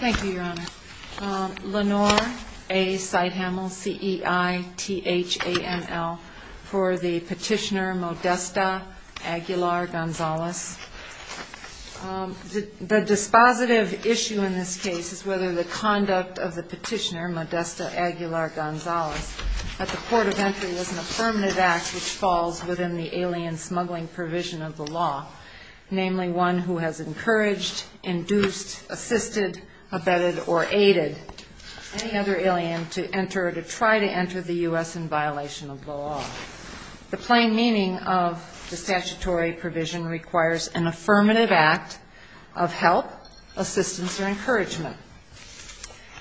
Thank you, Your Honor. Lenore A. Seithammel, C-E-I-T-H-A-M-M-E-L, for the petitioner Modesta Aguilar Gonzalez. The dispositive issue in this case is whether the conduct of the petitioner, Modesta Aguilar Gonzalez, at the court of entry was an affirmative act which falls within the alien smuggling provision of the law, namely one who has encouraged, induced, assisted, abetted, or aided any other alien to enter or to try to enter the U.S. in violation of the law. The plain meaning of the statutory provision requires an affirmative act of help, assistance, or encouragement.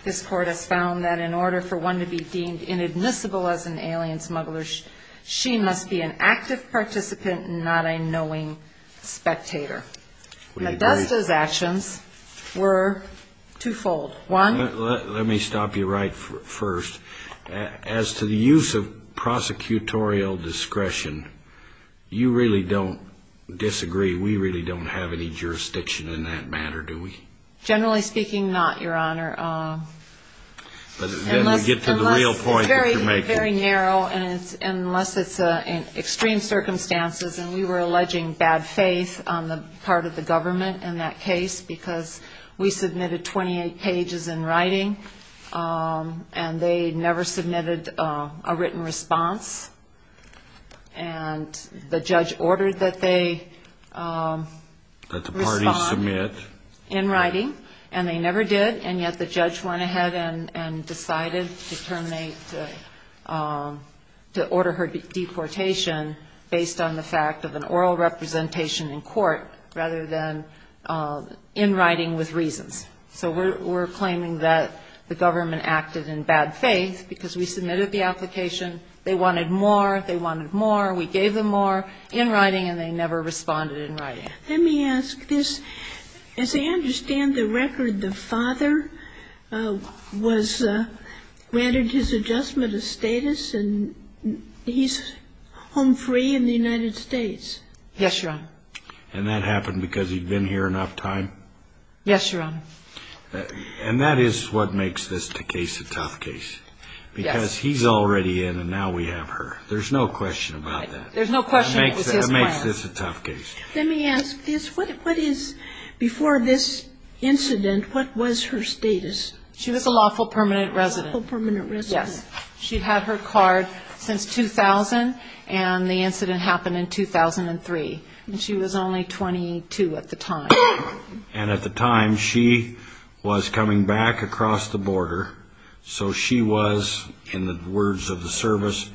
This court has found that in order for one to be deemed inadmissible as an alien smuggler, she must be an active participant and not a knowing spectator. Modesta's actions were twofold. One Let me stop you right first. As to the use of prosecutorial discretion, you really don't disagree. We really don't have any jurisdiction in that matter, do we? Generally speaking, not, Your Honor. Unless It's very narrow, and unless it's in extreme circumstances, and we were alleging bad faith on the part of the government in that case because we submitted a petition to the U.S. We submitted 28 pages in writing, and they never submitted a written response, and the judge ordered that they respond in writing, and they never did, and yet the judge went ahead and decided to terminate, to order her deportation based on the fact of an oral representation in court rather than in writing with reasons. So we're claiming that the government acted in bad faith because we submitted the application, they wanted more, they wanted more, we gave them more in writing, and they never responded in writing. Let me ask this. As I understand the record, the father was granted his adjustment of status, and he's home free in the United States. Yes, Your Honor. And that happened because he'd been here enough time? Yes, Your Honor. And that is what makes this case a tough case. Yes. Because he's already in, and now we have her. There's no question about that. There's no question it was his plan. It makes this a tough case. Let me ask this. What is, before this incident, what was her status? She was a lawful permanent resident. Lawful permanent resident. Yes. She'd had her card since 2000, and the incident happened in 2003, and she was only 22 at the time. And at the time, she was coming back across the border, so she was, in the words of the service,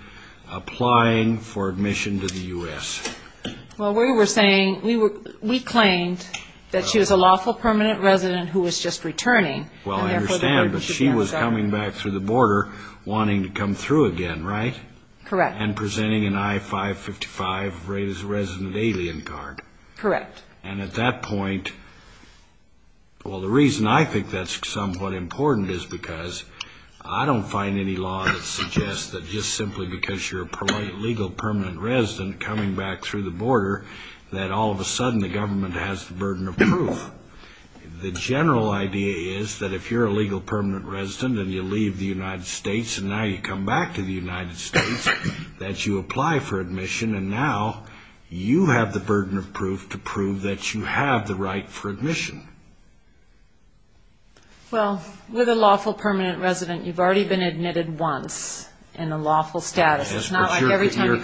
applying for admission to the U.S. Well, we were saying, we claimed that she was a lawful permanent resident who was just returning. Well, I understand, but she was coming back through the border wanting to come through again, right? Correct. And presenting an I-555 resident alien card. Correct. And at that point, well, the reason I think that's somewhat important is because I don't find any law that suggests that just simply because you're a legal permanent resident coming back through the border, that all of a sudden the government has the burden of proof. The general idea is that if you're a legal permanent resident and you leave the United States and now you come back to the United States, that you apply for admission, and now you have the burden of proof to prove that you have the right for admission. Well, with a lawful permanent resident, you've already been admitted once in a lawful status. It's not like every time you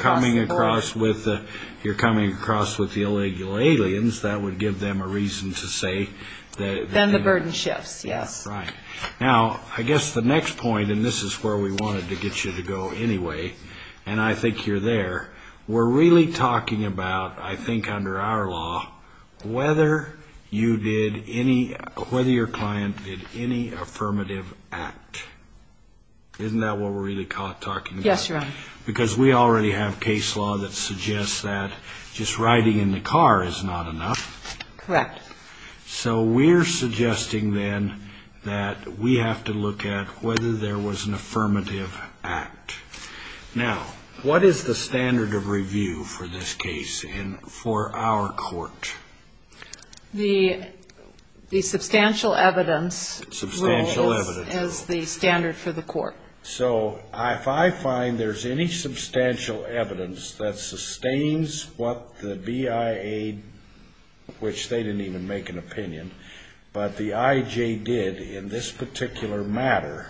cross the border. If you're coming across with the illegal aliens, that would give them a reason to say that... Then the burden shifts, yes. Right. Now, I guess the next point, and this is where we wanted to get you to go anyway, and I think you're there. We're really talking about, I think under our law, whether your client did any affirmative act. Isn't that what we're really talking about? Yes, Your Honor. Because we already have case law that suggests that just riding in the car is not enough. Correct. So we're suggesting then that we have to look at whether there was an affirmative act. Now, what is the standard of review for this case and for our court? The substantial evidence rule is the standard for the court. So if I find there's any substantial evidence that sustains what the BIA, which they didn't even make an opinion, but the IJ did in this particular matter,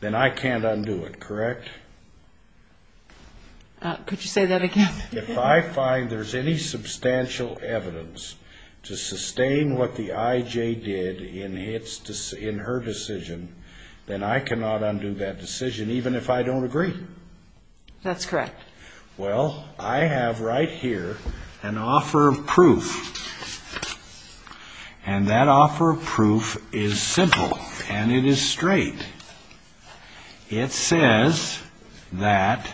then I can't undo it, correct? Could you say that again? If I find there's any substantial evidence to sustain what the IJ did in her decision, then I cannot undo that decision, even if I don't agree. That's correct. Well, I have right here an offer of proof, and that offer of proof is simple, and it is straight. It says that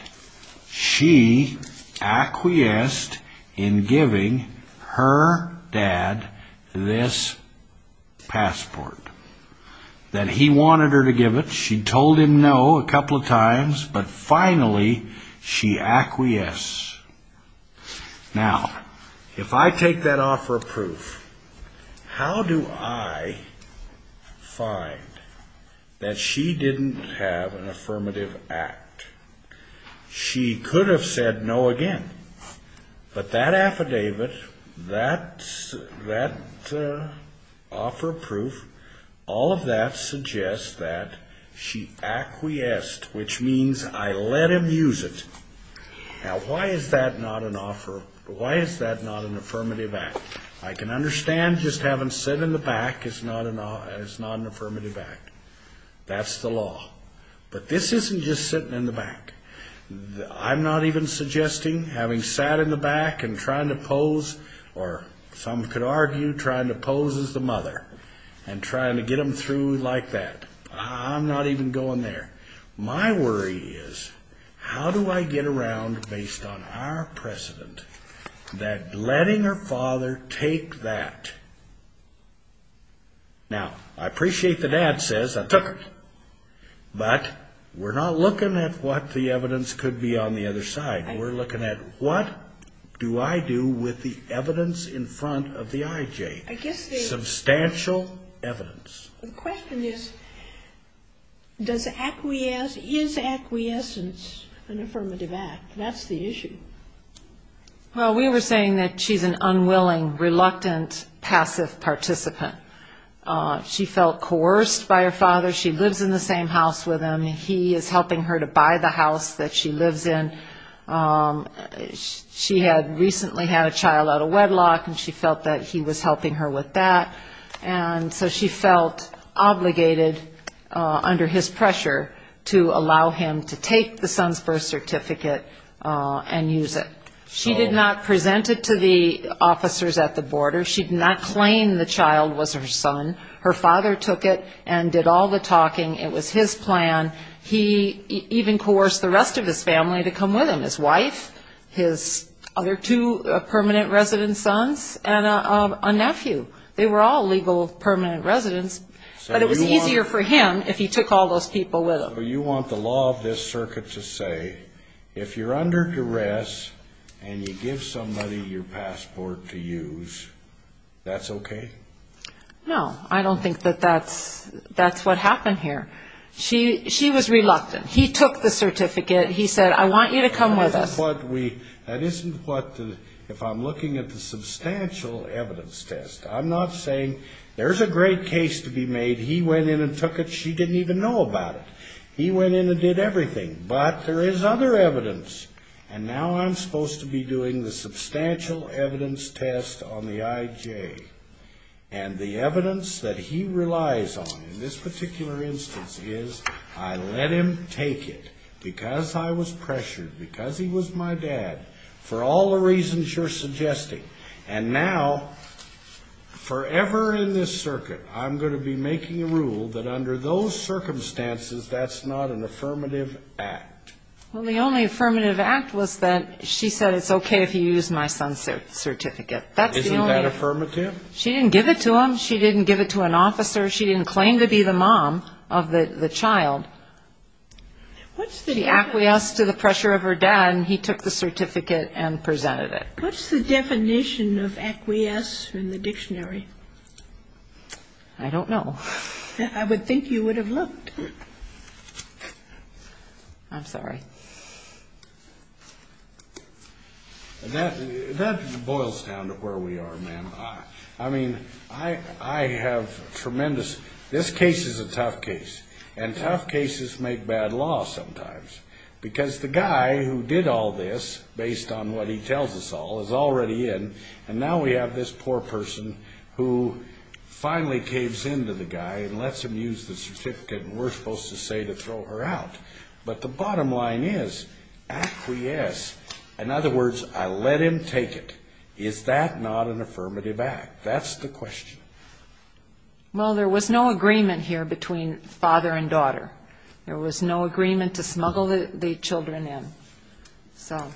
she acquiesced in giving her dad this passport, that he wanted her to give it. She told him no a couple of times, but finally she acquiesced. Now, if I take that offer of proof, how do I find that she didn't have an affirmative act? She could have said no again, but that affidavit, that offer of proof, all of that suggests that she acquiesced, which means I let him use it. Now, why is that not an offer? Why is that not an affirmative act? I can understand just having said in the back it's not an affirmative act. That's the law. But this isn't just sitting in the back. I'm not even suggesting having sat in the back and trying to pose, or some could argue trying to pose as the mother and trying to get him through like that. I'm not even going there. My worry is how do I get around, based on our precedent, that letting her father take that. Now, I appreciate the dad says I took it, but we're not looking at what the evidence could be on the other side. We're looking at what do I do with the evidence in front of the IJ, substantial evidence. The question is, is acquiescence an affirmative act? That's the issue. Well, we were saying that she's an unwilling, reluctant, passive participant. She felt coerced by her father. She lives in the same house with him. He is helping her to buy the house that she lives in. She had recently had a child out of wedlock, and she felt that he was helping her with that. And so she felt obligated under his pressure to allow him to take the son's birth certificate and use it. She did not present it to the officers at the border. She did not claim the child was her son. Her father took it and did all the talking. It was his plan. He even coerced the rest of his family to come with him, his wife, his other two permanent resident sons, and a nephew. They were all legal permanent residents, but it was easier for him if he took all those people with him. So you want the law of this circuit to say if you're under duress and you give somebody your passport to use, that's okay? No, I don't think that that's what happened here. She was reluctant. He took the certificate. He said, I want you to come with us. If I'm looking at the substantial evidence test, I'm not saying there's a great case to be made. He went in and took it. She didn't even know about it. He went in and did everything, but there is other evidence. And now I'm supposed to be doing the substantial evidence test on the IJ. And the evidence that he relies on in this particular instance is I let him take it because I was pressured, because he was my dad, for all the reasons you're suggesting. And now, forever in this circuit, I'm going to be making a rule that under those circumstances, that's not an affirmative act. Well, the only affirmative act was that she said it's okay if you use my son's certificate. Isn't that affirmative? She didn't give it to him. She didn't give it to an officer. She didn't claim to be the mom of the child. She acquiesced to the pressure of her dad, and he took the certificate and presented it. What's the definition of acquiesce in the dictionary? I don't know. I would think you would have looked. I'm sorry. That boils down to where we are, ma'am. I mean, I have tremendous ñ this case is a tough case, and tough cases make bad law sometimes. Because the guy who did all this, based on what he tells us all, is already in, and now we have this poor person who finally caves in to the guy and lets him use the certificate, and we're supposed to say to throw her out. But the bottom line is acquiesce. In other words, I let him take it. Is that not an affirmative act? That's the question. Well, there was no agreement here between father and daughter. There was no agreement to smuggle the children in. So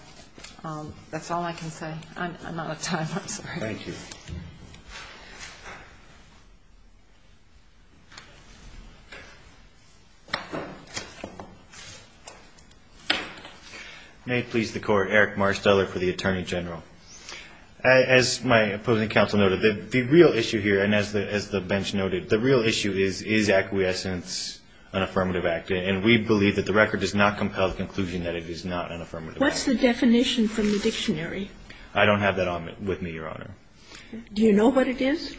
that's all I can say. I'm out of time. I'm sorry. Thank you. May it please the Court. Eric Marsteller for the Attorney General. As my opposing counsel noted, the real issue here, and as the bench noted, the real issue is, is acquiescence an affirmative act? And we believe that the record does not compel the conclusion that it is not an affirmative act. What's the definition from the dictionary? I don't have that with me, Your Honor. Do you know what it is?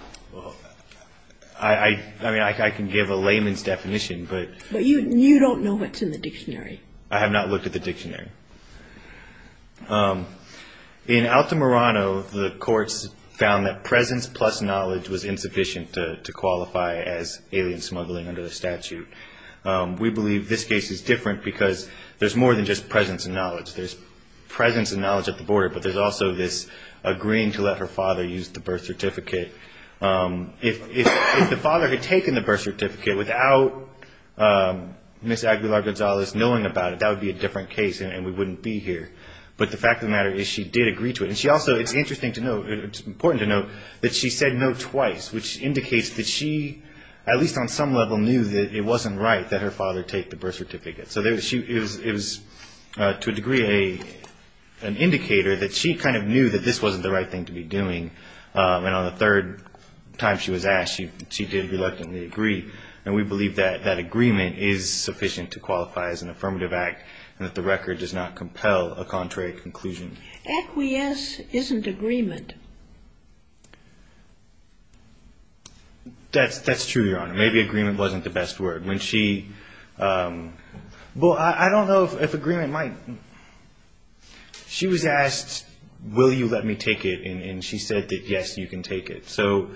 I mean, I can give a layman's definition, but ñ You don't know what's in the dictionary. I have not looked at the dictionary. In Altamirano, the courts found that presence plus knowledge was insufficient to qualify as alien smuggling under the statute. We believe this case is different because there's more than just presence and knowledge. There's presence and knowledge at the border, but there's also this agreeing to let her father use the birth certificate. If the father had taken the birth certificate without Ms. Aguilar-Gonzalez knowing about it, that would be a different case and we wouldn't be here. But the fact of the matter is she did agree to it. And she also ñ it's interesting to note, it's important to note that she said no twice, which indicates that she, at least on some level, knew that it wasn't right that her father take the birth certificate. So it was, to a degree, an indicator that she kind of knew that this wasn't the right thing to be doing. And on the third time she was asked, she did reluctantly agree. And we believe that that agreement is sufficient to qualify as an affirmative act and that the record does not compel a contrary conclusion. Equius isn't agreement. That's true, Your Honor. Maybe agreement wasn't the best word. When she ñ well, I don't know if agreement might ñ she was asked, will you let me take it? And she said that, yes, you can take it. So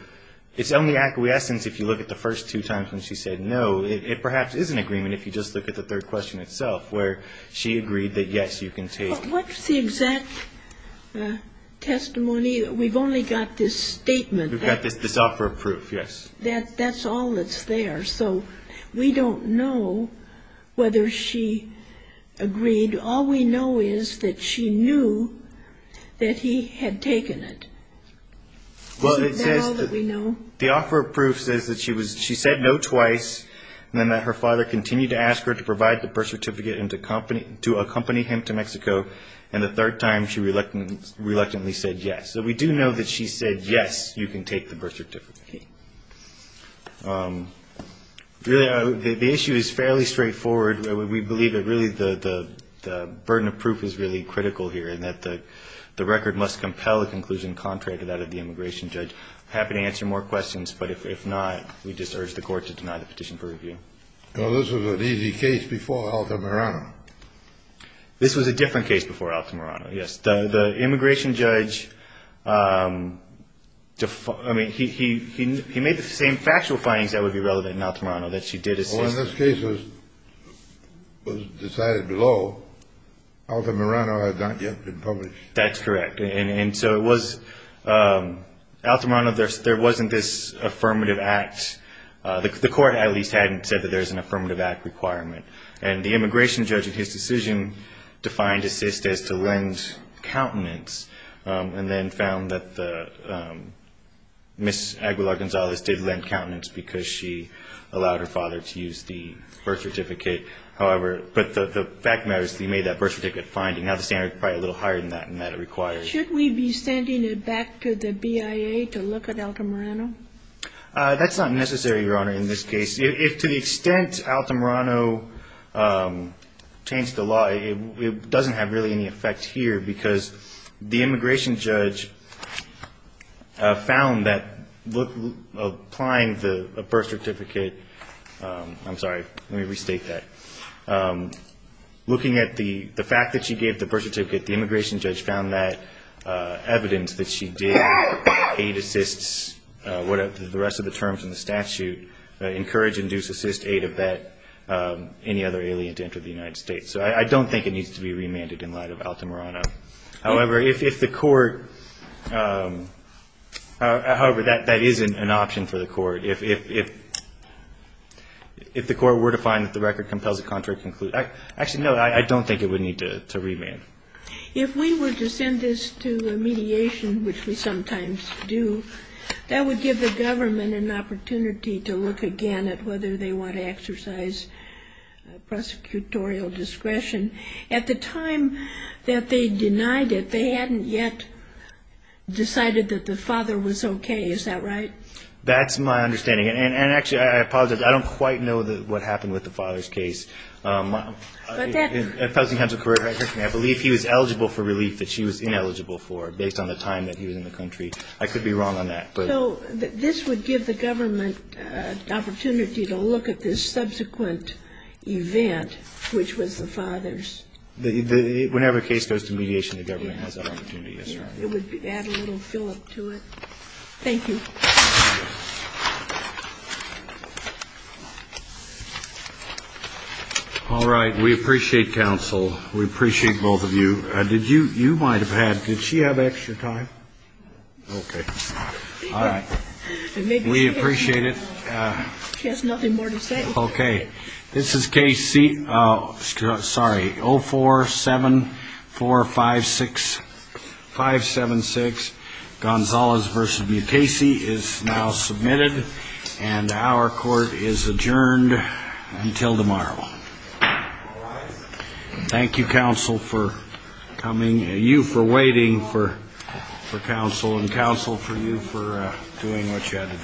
it's only acquiescence if you look at the first two times when she said no. It perhaps is an agreement if you just look at the third question itself where she agreed that, yes, you can take it. But what's the exact testimony? We've only got this statement. We've got this offer of proof, yes. That's all that's there. So we don't know whether she agreed. All we know is that she knew that he had taken it. Isn't that all that we know? The offer of proof says that she was ñ she said no twice, and then that her father continued to ask her to provide the birth certificate and to accompany him to Mexico, and the third time she reluctantly said yes. So we do know that she said, yes, you can take the birth certificate. Okay. The issue is fairly straightforward. We believe that really the burden of proof is really critical here, and that the record must compel a conclusion contrary to that of the immigration judge. I'm happy to answer more questions, but if not, we just urge the Court to deny the petition for review. Well, this was an easy case before Altamirano. This was a different case before Altamirano, yes. The immigration judge, I mean, he made the same factual findings that would be relevant in Altamirano that she did assist. Well, when this case was decided below, Altamirano had not yet been published. That's correct. And so it was ñ Altamirano, there wasn't this affirmative act. The Court at least hadn't said that there was an affirmative act requirement, and the immigration judge in his decision defined assist as to lend countenance and then found that Ms. Aguilar-Gonzalez did lend countenance because she allowed her father to use the birth certificate. However, but the fact of the matter is that he made that birth certificate finding. Now the standard is probably a little higher than that and that it requires. Should we be sending it back to the BIA to look at Altamirano? That's not necessary, Your Honor, in this case. If to the extent Altamirano changed the law, it doesn't have really any effect here because the immigration judge found that applying the birth certificate ñ I'm sorry. Let me restate that. Looking at the fact that she gave the birth certificate, the immigration judge found that evidence that she did aid, assist, whatever the rest of the terms in the statute, encourage, induce, assist, aid, abet any other alien to enter the United States. So I don't think it needs to be remanded in light of Altamirano. However, if the court ñ however, that isn't an option for the court. If the court were to find that the record compels a contrary conclusion ñ actually, no, I don't think it would need to remand. If we were to send this to a mediation, which we sometimes do, that would give the government an opportunity to look again at whether they want to exercise prosecutorial discretion. At the time that they denied it, they hadn't yet decided that the father was okay. Is that right? That's my understanding. And actually, I apologize. I don't quite know what happened with the father's case. But that ñ I believe he was eligible for relief that she was ineligible for based on the time that he was in the country. I could be wrong on that. So this would give the government an opportunity to look at this subsequent event, which was the father's. Whenever a case goes to mediation, the government has that opportunity. Yes, sir. It would add a little fill-up to it. Thank you. All right. We appreciate counsel. We appreciate both of you. Did you ñ you might have had ñ did she have extra time? No. Okay. All right. We appreciate it. She has nothing more to say. Okay. This is case C ñ oh, sorry, 047456576. Gonzalez v. Mukasey is now submitted. And our court is adjourned until tomorrow. Thank you, counsel, for coming ñ you for waiting for counsel and counsel for you for doing what you had to do.